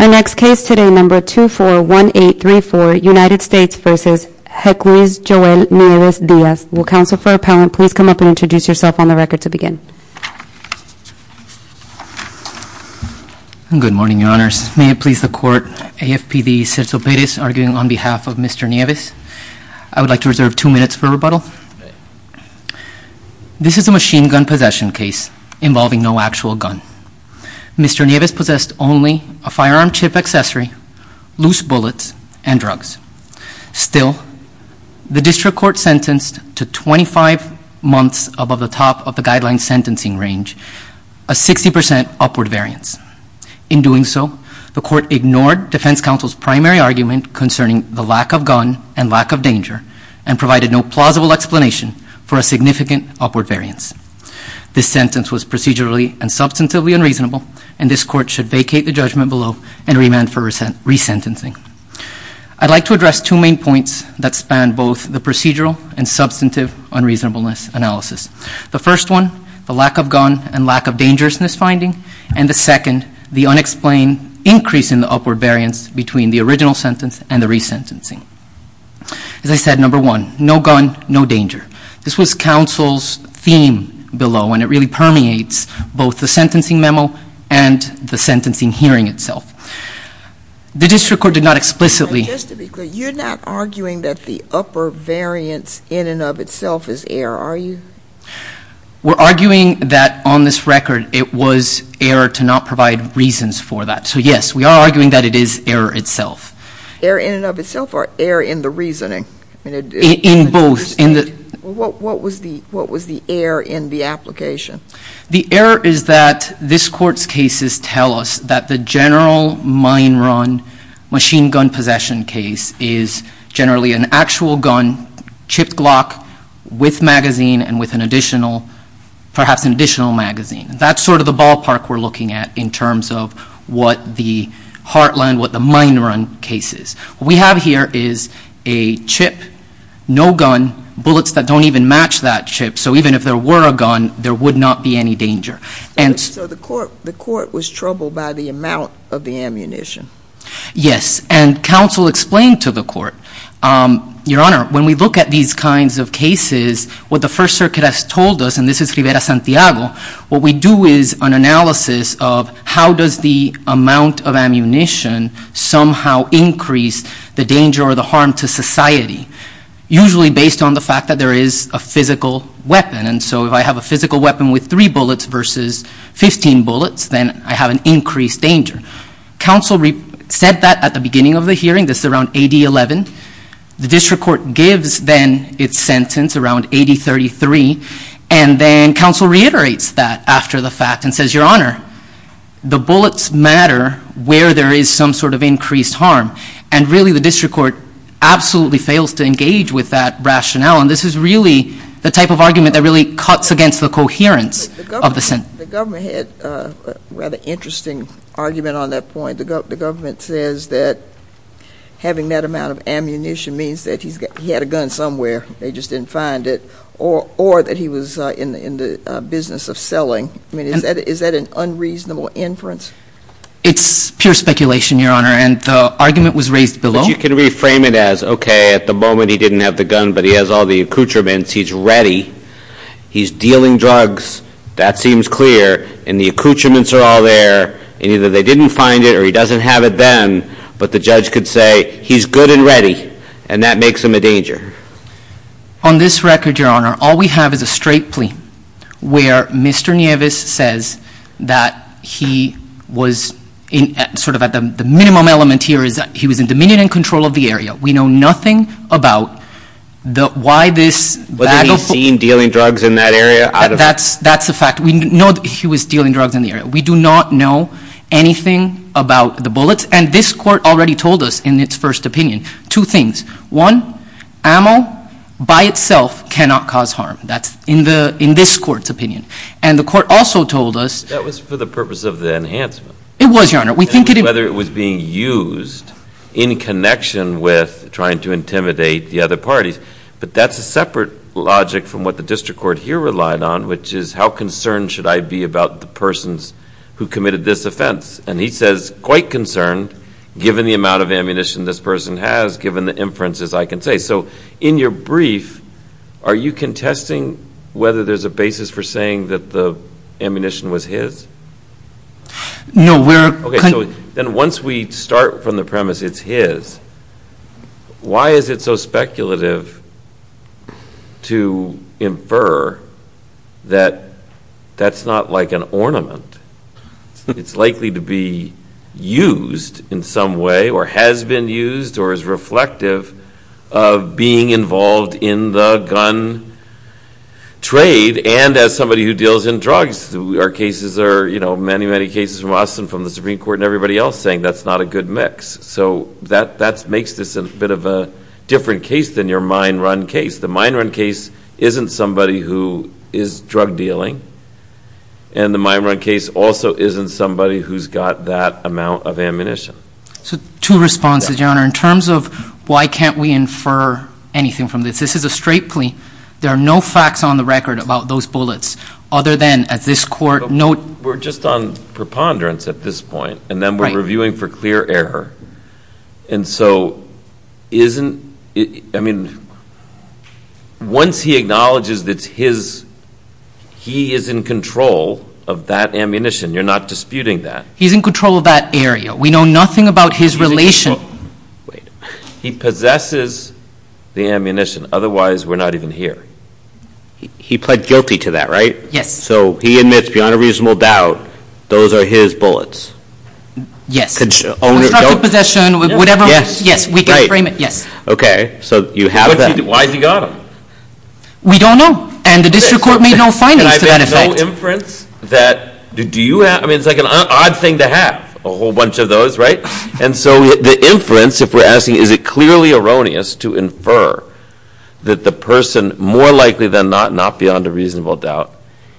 Our next case today, number 241834, United States v. Requis Joel Nieves-Diaz. Will counsel for appellant please come up and introduce yourself on the record to begin. Good morning, your honors. May it please the court, AFPD, Sergio Perez, arguing on behalf of Mr. Nieves. I would like to reserve two minutes for rebuttal. This is a machine gun possession case involving no actual gun. Mr. Nieves possessed only a firearm chip accessory, loose bullets, and drugs. Still, the district court sentenced to 25 months above the top of the guideline sentencing range, a 60% upward variance. In doing so, the court ignored defense counsel's primary argument concerning the lack of gun and lack of danger, and provided no plausible explanation for a significant upward variance. This sentence was procedurally and substantively unreasonable, and this court should vacate the judgment below and remand for resentencing. I'd like to address two main points that span both the procedural and substantive unreasonableness analysis. The first one, the lack of gun and lack of dangerousness finding, and the second, the unexplained increase in the upward variance between the original sentence and the resentencing. As I said, number one, no gun, no danger. This was counsel's theme below, and it really permeates both the sentencing memo and the sentencing hearing itself. The district court did not explicitly- Just to be clear, you're not arguing that the upper variance in and of itself is error, are you? We're arguing that on this record, it was error to not provide reasons for that. So yes, we are arguing that it is error itself. Error in and of itself, or error in the reasoning? In both. What was the error in the application? The error is that this court's cases tell us that the general mine run machine gun possession case is generally an actual gun, chipped lock, with magazine and with an additional, perhaps an additional magazine. That's sort of the ballpark we're looking at in terms of what the Heartland, what the mine run case is. What we have here is a chip, no gun, bullets that don't even match that chip. So even if there were a gun, there would not be any danger. So the court was troubled by the amount of the ammunition? Yes, and counsel explained to the court, Your Honor, when we look at these kinds of cases, what the First Circuit has told us, and this is Rivera-Santiago, what we do is an analysis of how does the amount of ammunition somehow increase the danger or the harm to society? Usually based on the fact that there is a physical weapon. And so if I have a physical weapon with three bullets versus 15 bullets, then I have an increased danger. Counsel said that at the beginning of the hearing. This is around AD 11. The district court gives then its sentence around AD 33. And then counsel reiterates that after the fact and says, Your Honor, the bullets matter where there is some sort of increased harm. And really the district court absolutely fails to engage with that rationale. And this is really the type of argument that really cuts against the coherence of the sentence. The government had a rather interesting argument on that point. The government says that having that amount of ammunition means that he had a gun somewhere. They just didn't find it. Or that he was in the business of selling. I mean, is that an unreasonable inference? It's pure speculation, Your Honor. And the argument was raised below. But you can reframe it as, okay, at the moment he didn't have the gun, but he has all the accoutrements. He's ready. He's dealing drugs. That seems clear. And the accoutrements are all there. And either they didn't find it or he doesn't have it then. But the judge could say, he's good and ready. And that makes him a danger. On this record, Your Honor, all we have is a straight plea where Mr. Nieves says that he was sort of at the minimum element here is that he was in dominion and control of the area. We know nothing about why this... Was he seen dealing drugs in that area? That's a fact. We know that he was dealing drugs in the area. We do not know anything about the bullets. And this court already told us in its first opinion two things. One, ammo by itself cannot cause harm. That's in this court's opinion. And the court also told us... That was for the purpose of the enhancement. It was, Your Honor. Whether it was being used in connection with trying to intimidate the other parties. But that's a separate logic from what the district court here relied on, which is how concerned should I be about the persons who committed this offense. And he says quite concerned given the amount of ammunition this person has, given the inferences I can say. So in your brief, are you contesting whether there's a basis for saying that the ammunition was his? No, we're... Okay, so then once we start from the premise it's his, why is it so speculative to infer that that's not like an ornament? It's likely to be used in some way or has been used or is reflective of being involved in the gun trade and as somebody who deals in drugs. Our cases are, you know, many, many cases from us and from the Supreme Court and everybody else saying that's not a good mix. So that makes this a bit of a different case than your mine run case. The mine run case isn't somebody who is drug dealing. And the mine run case also isn't somebody who's got that amount of ammunition. So two responses, Your Honor. In terms of why can't we infer anything from this, this is a straight plea. There are no facts on the record about those bullets other than at this court no... We're just on preponderance at this point. And then we're reviewing for clear error. And so isn't... Once he acknowledges that he is in control of that ammunition, you're not disputing that. He's in control of that area. We know nothing about his relation. Wait. He possesses the ammunition. Otherwise, we're not even here. He pled guilty to that, right? Yes. So he admits beyond a reasonable doubt those are his bullets. Yes. Constructive possession, whatever. Yes. Yes. We can frame it. Yes. Okay. So you have them. Why has he got them? We don't know. And the district court made no findings to that effect. And I've made no inference that... Do you have... I mean, it's like an odd thing to have a whole bunch of those, right? And so the inference, if we're asking, is it clearly erroneous to infer that the person, more likely than not, not beyond a reasonable doubt,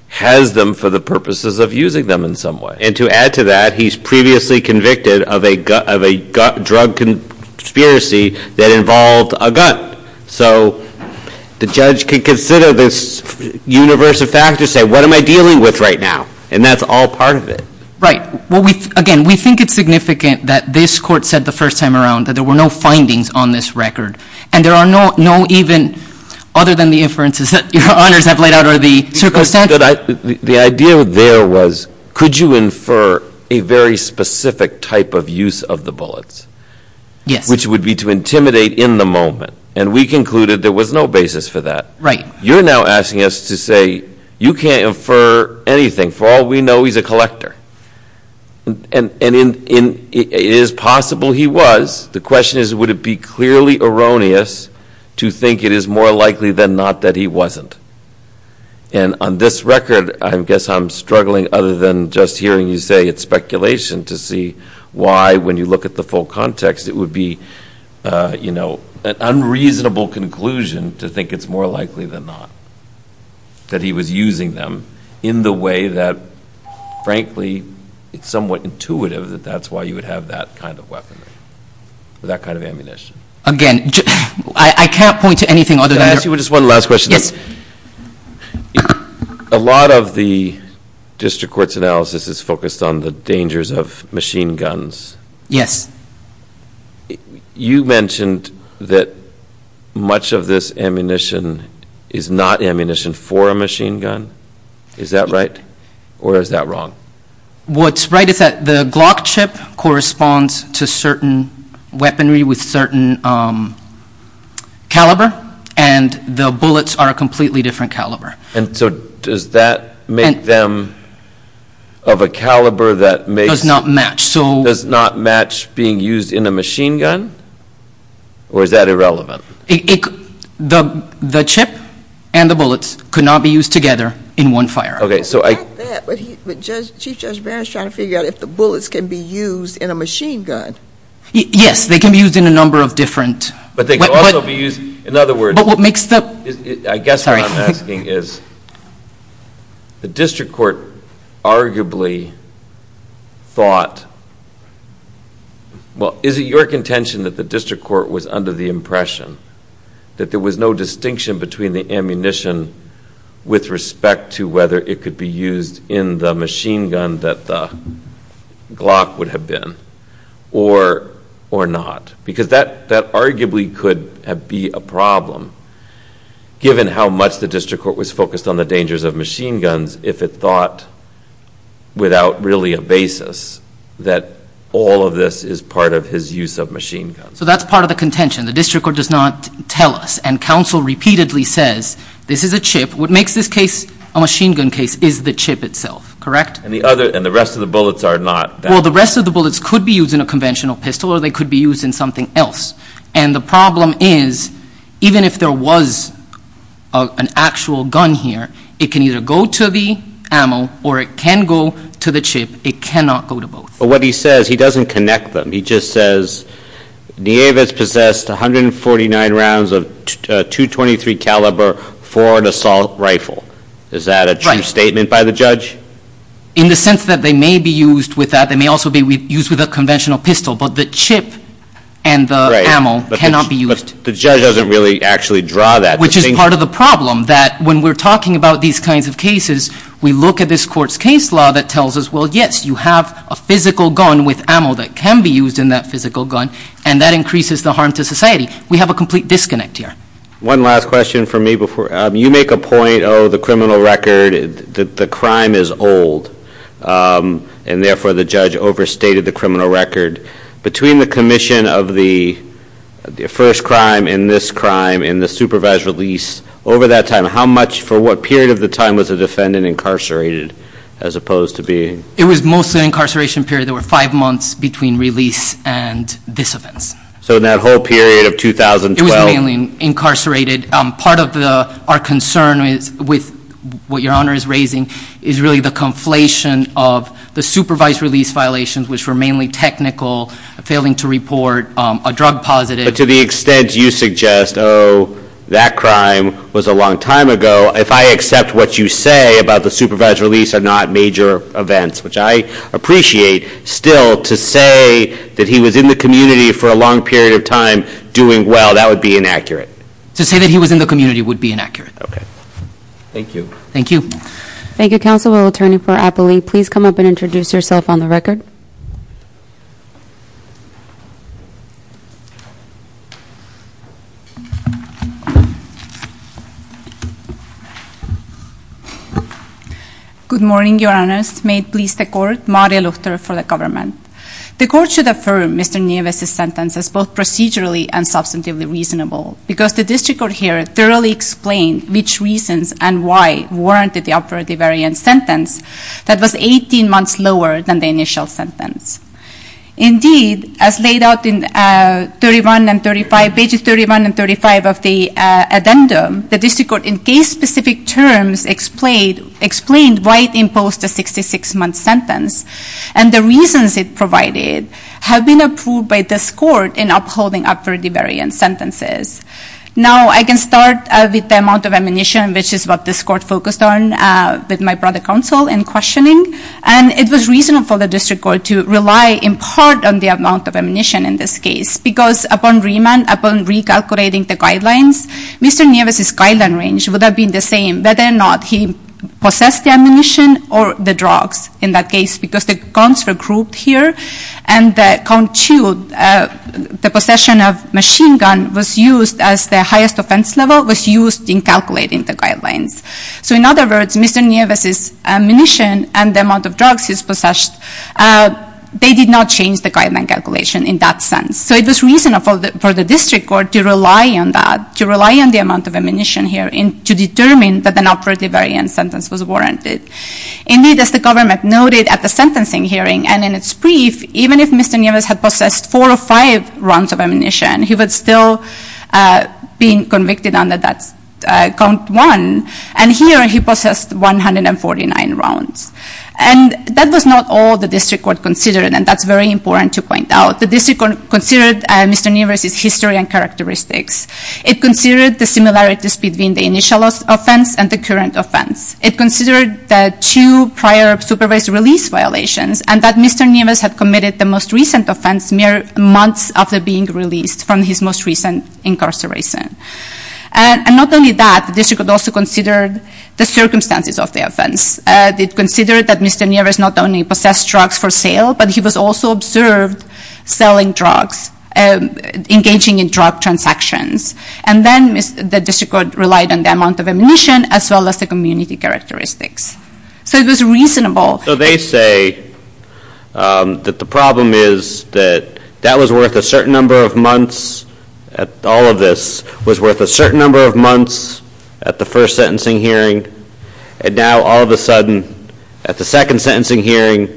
has them for the purposes of using them in some way? And to add to that, he's previously convicted of a drug conspiracy that involved a gun. So the judge could consider this universe of factors, say, what am I dealing with right now? And that's all part of it. Right. Well, again, we think it's significant that this court said the first time around that there were no findings on this record. And there are no even, other than the inferences that Your Honors have laid out, are the circumstances... The idea there was, could you infer a very specific type of use of the bullets? Yes. Which would be to intimidate in the moment. And we concluded there was no basis for that. Right. You're now asking us to say you can't infer anything. For all we know, he's a collector. And it is possible he was. The question is, would it be clearly erroneous to think it is more likely than not that he wasn't? And on this record, I guess I'm struggling other than just hearing you say it's speculation to see why, when you look at the full context, it would be, you know, an unreasonable conclusion to think it's more likely than not that he was using them in the way that, frankly, it's somewhat intuitive that that's why you would have that kind of weaponry, that kind of ammunition. Again, I can't point to anything other than... Just one last question. A lot of the district court's analysis is focused on the dangers of machine guns. Yes. You mentioned that much of this ammunition is not ammunition for a machine gun. Is that right or is that wrong? What's right is that the Glock chip corresponds to certain weaponry with certain caliber and the bullets are a completely different caliber. And so does that make them of a caliber that makes... Does not match, so... Does not match being used in a machine gun? Or is that irrelevant? The chip and the bullets could not be used together in one firearm. Okay, so I... It's not that, but Chief Judge Barrett's trying to figure out if the bullets can be used in a machine gun. Yes, they can be used in a number of different... But they can also be used... In other words... But what makes the... I guess what I'm asking is... The district court arguably thought... Well, is it your contention that the district court was under the impression that there was no distinction between the ammunition with respect to whether it could be used in the machine gun that the Glock would have been or not? Because that arguably could be a problem given how much the district court was focused on the dangers of machine guns if it thought without really a basis that all of this is part of his use of machine guns. So that's part of the contention. The district court does not tell us and counsel repeatedly says, this is a chip, what makes this case a machine gun case is the chip itself, correct? And the rest of the bullets are not that. Well, the rest of the bullets could be used in a conventional pistol or they could be used in something else. And the problem is, even if there was an actual gun here, it can either go to the ammo or it can go to the chip. It cannot go to both. But what he says, he doesn't connect them. He just says, Nieves possessed 149 rounds of .223 caliber for an assault rifle. Is that a true statement by the judge? In the sense that they may be used with that, they may be used with a conventional pistol, but the chip and the ammo cannot be used. But the judge doesn't really actually draw that. Which is part of the problem, that when we're talking about these kinds of cases, we look at this court's case law that tells us, well, yes, you have a physical gun with ammo that can be used in that physical gun and that increases the harm to society. We have a complete disconnect here. One last question from me before. You make a point, oh, the criminal record, the crime is old and therefore the judge overstated the criminal record. Between the commission of the first crime and this crime and the supervised release, over that time, how much, for what period of the time was the defendant incarcerated as opposed to being? It was mostly an incarceration period. There were five months between release and this offense. So that whole period of 2012? It was mainly incarcerated. Part of our concern with what Your Honor is raising is really the conflation of the supervised release violations, which were mainly technical, failing to report a drug positive. But to the extent you suggest, oh, that crime was a long time ago, if I accept what you say about the supervised release are not major events, which I appreciate, still to say that he was in the community for a long period of time doing well, that would be inaccurate. To say that he was in the community would be inaccurate. Okay. Thank you. Thank you. Thank you, Counselor. We'll turn it over to Apoli. Please come up and introduce yourself on the record. Good morning, Your Honors. May it please the Court. Maria Luchter for the government. The Court should affirm Mr. Nieves' sentence as both procedurally and substantively reasonable because the district court here thoroughly explained which reasons and why warranted the upward devariance sentence that was 18 months lower than the initial sentence. Indeed, as laid out in pages 31 and 35 of the addendum, the district court in case-specific terms explained why it imposed a 66-month sentence, and the reasons it provided have been approved by this Court in upholding upward devariance sentences. Now, I can start with the amount of ammunition, which is what this Court focused on with my brother, Counsel, in questioning. And it was reasonable for the district court to rely in part on the amount of ammunition in this case because upon remand, upon recalculating the guidelines, Mr. Nieves' guideline range would have been the same, whether or not he possessed the ammunition or the drugs in that case because the guns were grouped here, and that count two, the possession of machine gun, was used as the highest offense level, was used in calculating the guidelines. So in other words, Mr. Nieves' ammunition and the amount of drugs he's possessed, they did not change the guideline calculation in that sense. So it was reasonable for the district court to rely on that, to rely on the amount of ammunition here to determine that an upward devariance sentence was warranted. Indeed, as the government noted at the sentencing hearing and in its brief, even if Mr. Nieves had possessed four or five rounds of ammunition, he would still be convicted under that count one. And here, he possessed 149 rounds. And that was not all the district court considered, and that's very important to point out. The district court considered Mr. Nieves' history and characteristics. It considered the similarities between the initial offense and the current offense. It considered the two prior supervised release violations, and that Mr. Nieves had committed the most recent offense mere months after being released from his most recent incarceration. And not only that, the district court also considered the circumstances of the offense. It considered that Mr. Nieves not only possessed drugs for sale, but he was also observed selling drugs, engaging in drug transactions. And then the district court relied on the amount of ammunition as well as the community characteristics. So it was reasonable. So they say that the problem is that that was worth a certain number of months, all of this was worth a certain number of months at the first sentencing hearing, and now all of a sudden at the second sentencing hearing,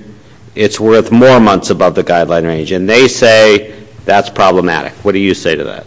it's worth more months above the guideline range. And they say that's problematic. What do you say to that?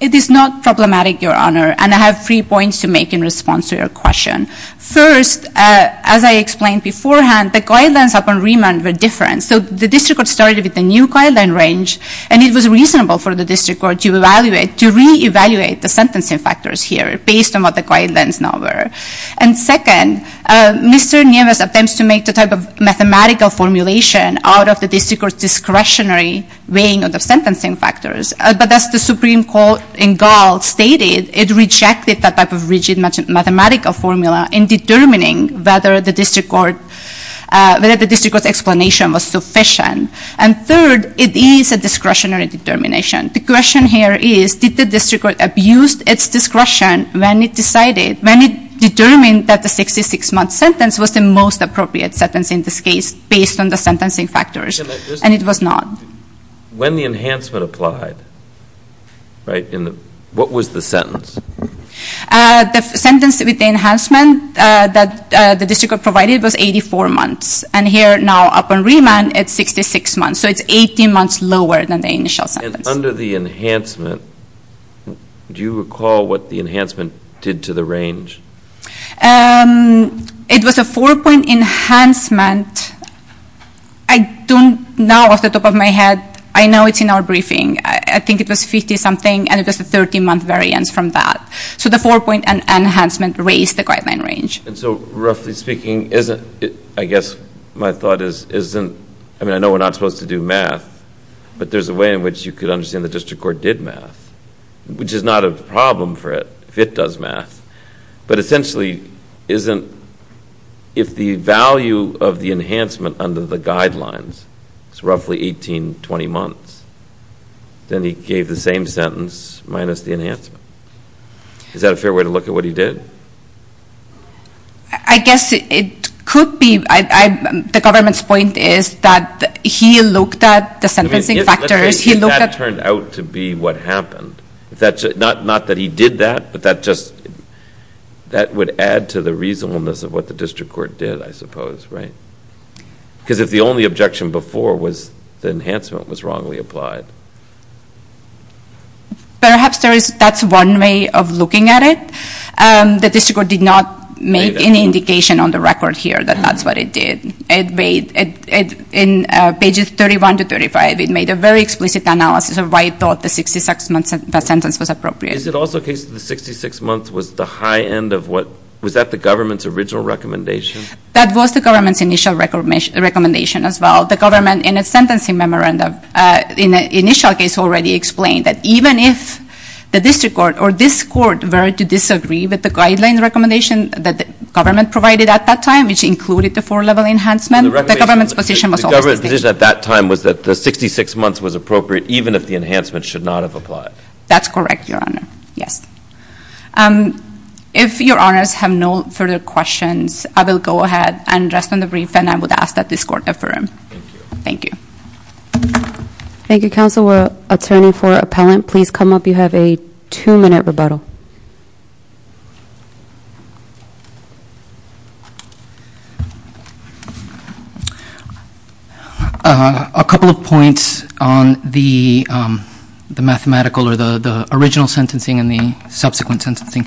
It is not problematic, Your Honor. And I have three points to make in response to your question. First, as I explained beforehand, the guidelines upon remand were different. So the district court started with the new guideline range, and it was reasonable for the district court to reevaluate the sentencing factors here based on what the guidelines now were. And second, Mr. Nieves attempts to make the type of mathematical formulation out of the district court's discretionary weighing of the sentencing factors. But as the Supreme Court in Gall stated, it rejected that type of rigid mathematical formula in determining whether the district court's explanation was sufficient. And third, it is a discretionary determination. The question here is, did the district court abuse its discretion when it determined that the 66-month sentence was the most appropriate sentence in this case based on the sentencing factors? And it was not. When the enhancement applied, what was the sentence? The sentence with the enhancement that the district court provided was 84 months. And here now, upon remand, it's 66 months. So it's 18 months lower than the initial sentence. And under the enhancement, do you recall what the enhancement did to the range? It was a four-point enhancement. I don't know off the top of my head. I know it's in our briefing. I think it was 50-something, and it was a 13-month variance from that. So the four-point enhancement raised the guideline range. And so, roughly speaking, isn't it, I guess my thought is, isn't, I mean, I know we're not supposed to do math, but there's a way in which you could understand the district court did math, which is not a problem for it if it does math. But essentially, if the value of the enhancement under the guidelines is roughly 18-20 months, then he gave the same sentence minus the enhancement. Is that a fair way to look at what he did? I guess it could be. The government's point is that he looked at the sentencing factors. Maybe that turned out to be what happened. Not that he did that, but that would add to the reasonableness of what the district court did, I suppose, right? Because if the only objection before was the enhancement was wrongly applied. Perhaps that's one way of looking at it. The district court did not make any indication on the record here that that's what it did. In pages 31 to 35, it made a very explicit analysis of why it thought the 66-month sentence was appropriate. Is it also the case that the 66 months was the high end of what, was that the government's original recommendation? That was the government's initial recommendation as well. The government, in its sentencing memorandum, in the initial case already explained that even if the district court or this court were to disagree with the guideline recommendation that the government provided at that time, which included the four-level enhancement, the government's position was always the same. The government's position at that time was that the 66 months was appropriate even if the enhancement should not have applied. That's correct, Your Honor. Yes. If Your Honors have no further questions, I will go ahead and rest on the brief, and I would ask that this court affirm. Thank you. Thank you, Counsel. Counselor, attorney for appellant, please come up. You have a two-minute rebuttal. A couple of points on the mathematical or the original sentencing and the subsequent sentencing.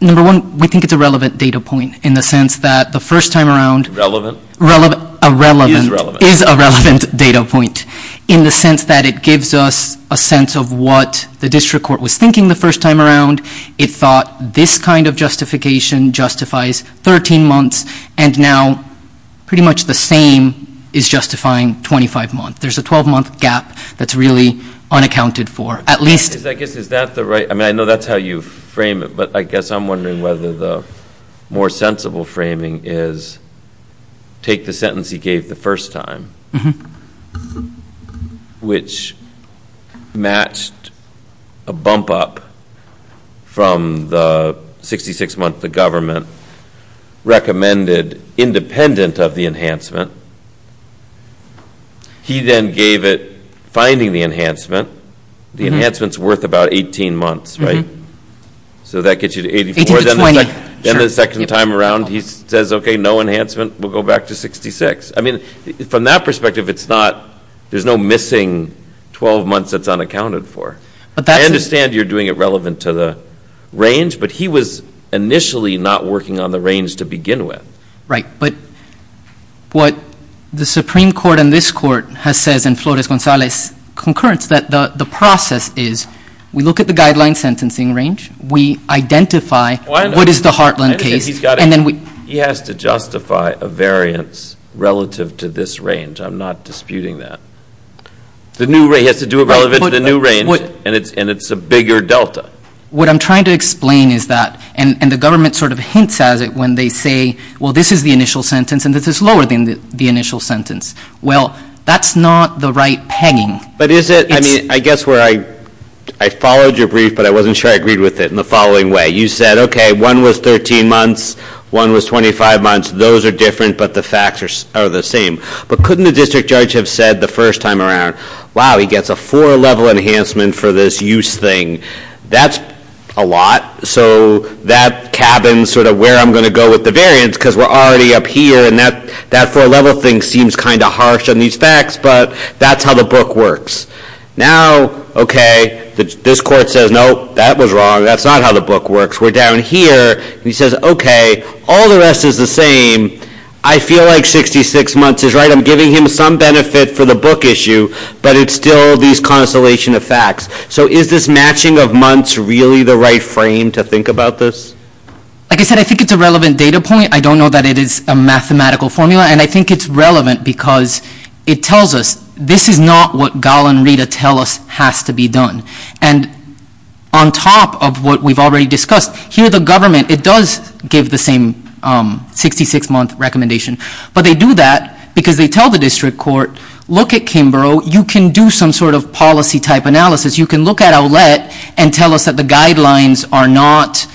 Number one, we think it's a relevant data point in the sense that the first time around- Relevant? Relevant. Irrelevant. Is relevant. Relevant data point in the sense that it gives us a sense of what the district court was thinking the first time around. It thought this kind of justification justifies 13 months, and now pretty much the same is justifying 25 months. There's a 12-month gap that's really unaccounted for, at least- I guess is that the right-I mean, I know that's how you frame it, but I guess I'm wondering whether the more sensible framing is take the sentence he gave the first time, which matched a bump up from the 66-month the government recommended independent of the enhancement. He then gave it finding the enhancement. The enhancement's worth about 18 months, right? So that gets you to 84. 18 to 20. Then the second time around, he says, okay, no enhancement. We'll go back to 66. I mean, from that perspective, it's not-there's no missing 12 months that's unaccounted for. But that's- I understand you're doing it relevant to the range, but he was initially not working on the range to begin with. Right. But what the Supreme Court and this court has said, and Flores-Gonzalez concurrence, that the process is we look at the guideline sentencing range, we identify what is the Heartland case, and then we- He has to justify a variance relative to this range. I'm not disputing that. He has to do it relative to the new range, and it's a bigger delta. What I'm trying to explain is that-and the government sort of hints at it when they say, well, this is the initial sentence, and this is lower than the initial sentence. Well, that's not the right pegging. But is it-I mean, I guess where I-I followed your brief, but I wasn't sure I agreed with it in the following way. You said, okay, one was 13 months, one was 25 months. Those are different, but the facts are the same. But couldn't the district judge have said the first time around, wow, he gets a four-level enhancement for this use thing. That's a lot. So that cabins sort of where I'm going to go with the variance, because we're already up here, and that four-level thing seems kind of harsh on these facts, but that's how the book works. Now, okay, this court says, no, that was wrong. That's not how the book works. We're down here, and he says, okay, all the rest is the same. I feel like 66 months is right. I'm giving him some benefit for the book issue, but it's still these constellation of facts. So is this matching of months really the right frame to think about this? Like I said, I think it's a relevant data point. I don't know that it is a mathematical formula, and I think it's relevant because it tells us this is not what Gall and Rita tell us has to be done. And on top of what we've already discussed, here the government, it does give the same 66-month recommendation, but they do that because they tell the district court, look at Kimbrough. You can do some sort of policy-type analysis. You can look at Owlette and tell us that the guidelines are not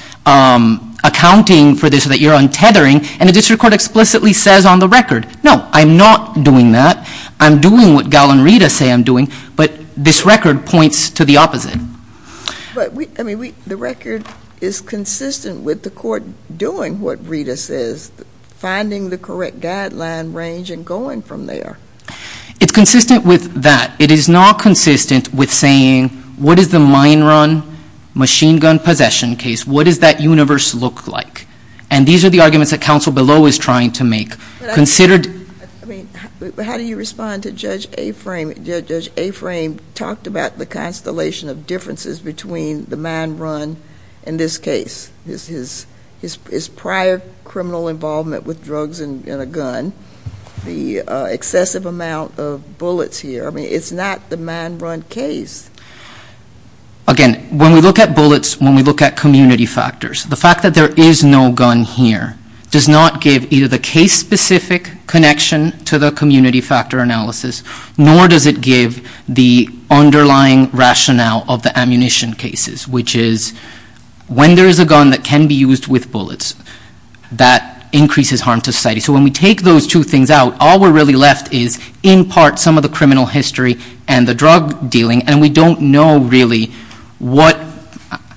accounting for this, that you're untethering, and the district court explicitly says on the record, no, I'm not doing that. I'm doing what Gall and Rita say I'm doing, but this record points to the opposite. But the record is consistent with the court doing what Rita says, finding the correct guideline range and going from there. It's consistent with that. It is not consistent with saying what is the mine run machine gun possession case? What does that universe look like? And these are the arguments that counsel below is trying to make. How do you respond to Judge Aframe? Judge Aframe talked about the constellation of differences between the mine run in this case, his prior criminal involvement with drugs and a gun, the excessive amount of bullets here. I mean, it's not the mine run case. Again, when we look at bullets, when we look at community factors, the fact that there is no gun here does not give either the case-specific connection to the community factor analysis, nor does it give the underlying rationale of the ammunition cases, which is when there is a gun that can be used with bullets, that increases harm to society. So when we take those two things out, all we're really left is, in part, some of the criminal history and the drug dealing, and we don't know really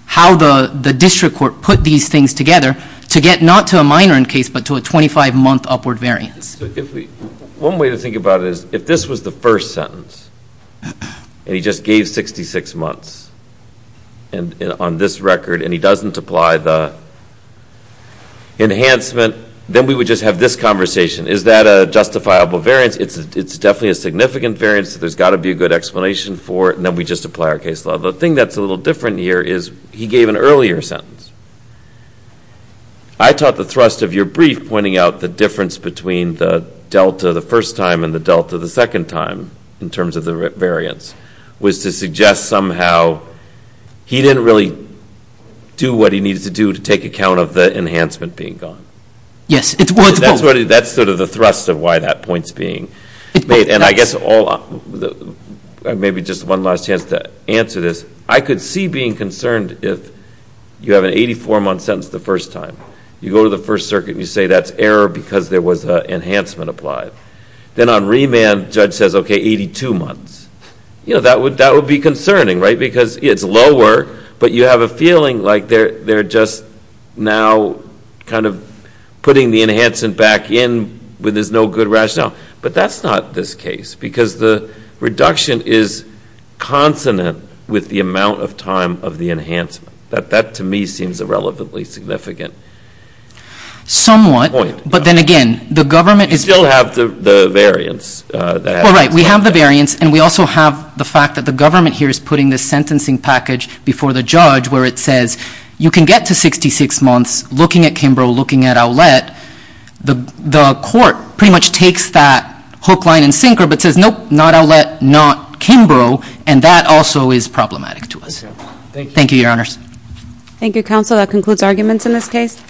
how the district court put these things together to get not to a mine run case but to a 25-month upward variance. One way to think about it is if this was the first sentence and he just gave 66 months on this record and he doesn't apply the enhancement, then we would just have this conversation. Is that a justifiable variance? It's definitely a significant variance. There's got to be a good explanation for it, and then we just apply our case law. The thing that's a little different here is he gave an earlier sentence. I taught the thrust of your brief pointing out the difference between the delta the first time and the delta the second time in terms of the variance was to suggest somehow he didn't really do what he needed to do to take account of the enhancement being gone. Yes. That's sort of the thrust of why that point's being made, and I guess maybe just one last chance to answer this. I could see being concerned if you have an 84-month sentence the first time, you go to the First Circuit and you say that's error because there was an enhancement applied. Then on remand, the judge says, okay, 82 months. That would be concerning, right, because it's lower, but you have a feeling like they're just now kind of putting the enhancement back in when there's no good rationale. But that's not this case because the reduction is consonant with the amount of time of the enhancement. That, to me, seems irrelevantly significant. Somewhat, but then again, the government is We still have the variance. Well, right. We have the variance, and we also have the fact that the government here is putting this sentencing package before the judge where it says you can get to 66 months looking at Kimbrough, looking at Ouellette. The court pretty much takes that hook, line, and sinker but says, nope, not Ouellette, not Kimbrough, and that also is problematic to us. Thank you, Your Honors. Thank you, Counsel. That concludes arguments in this case.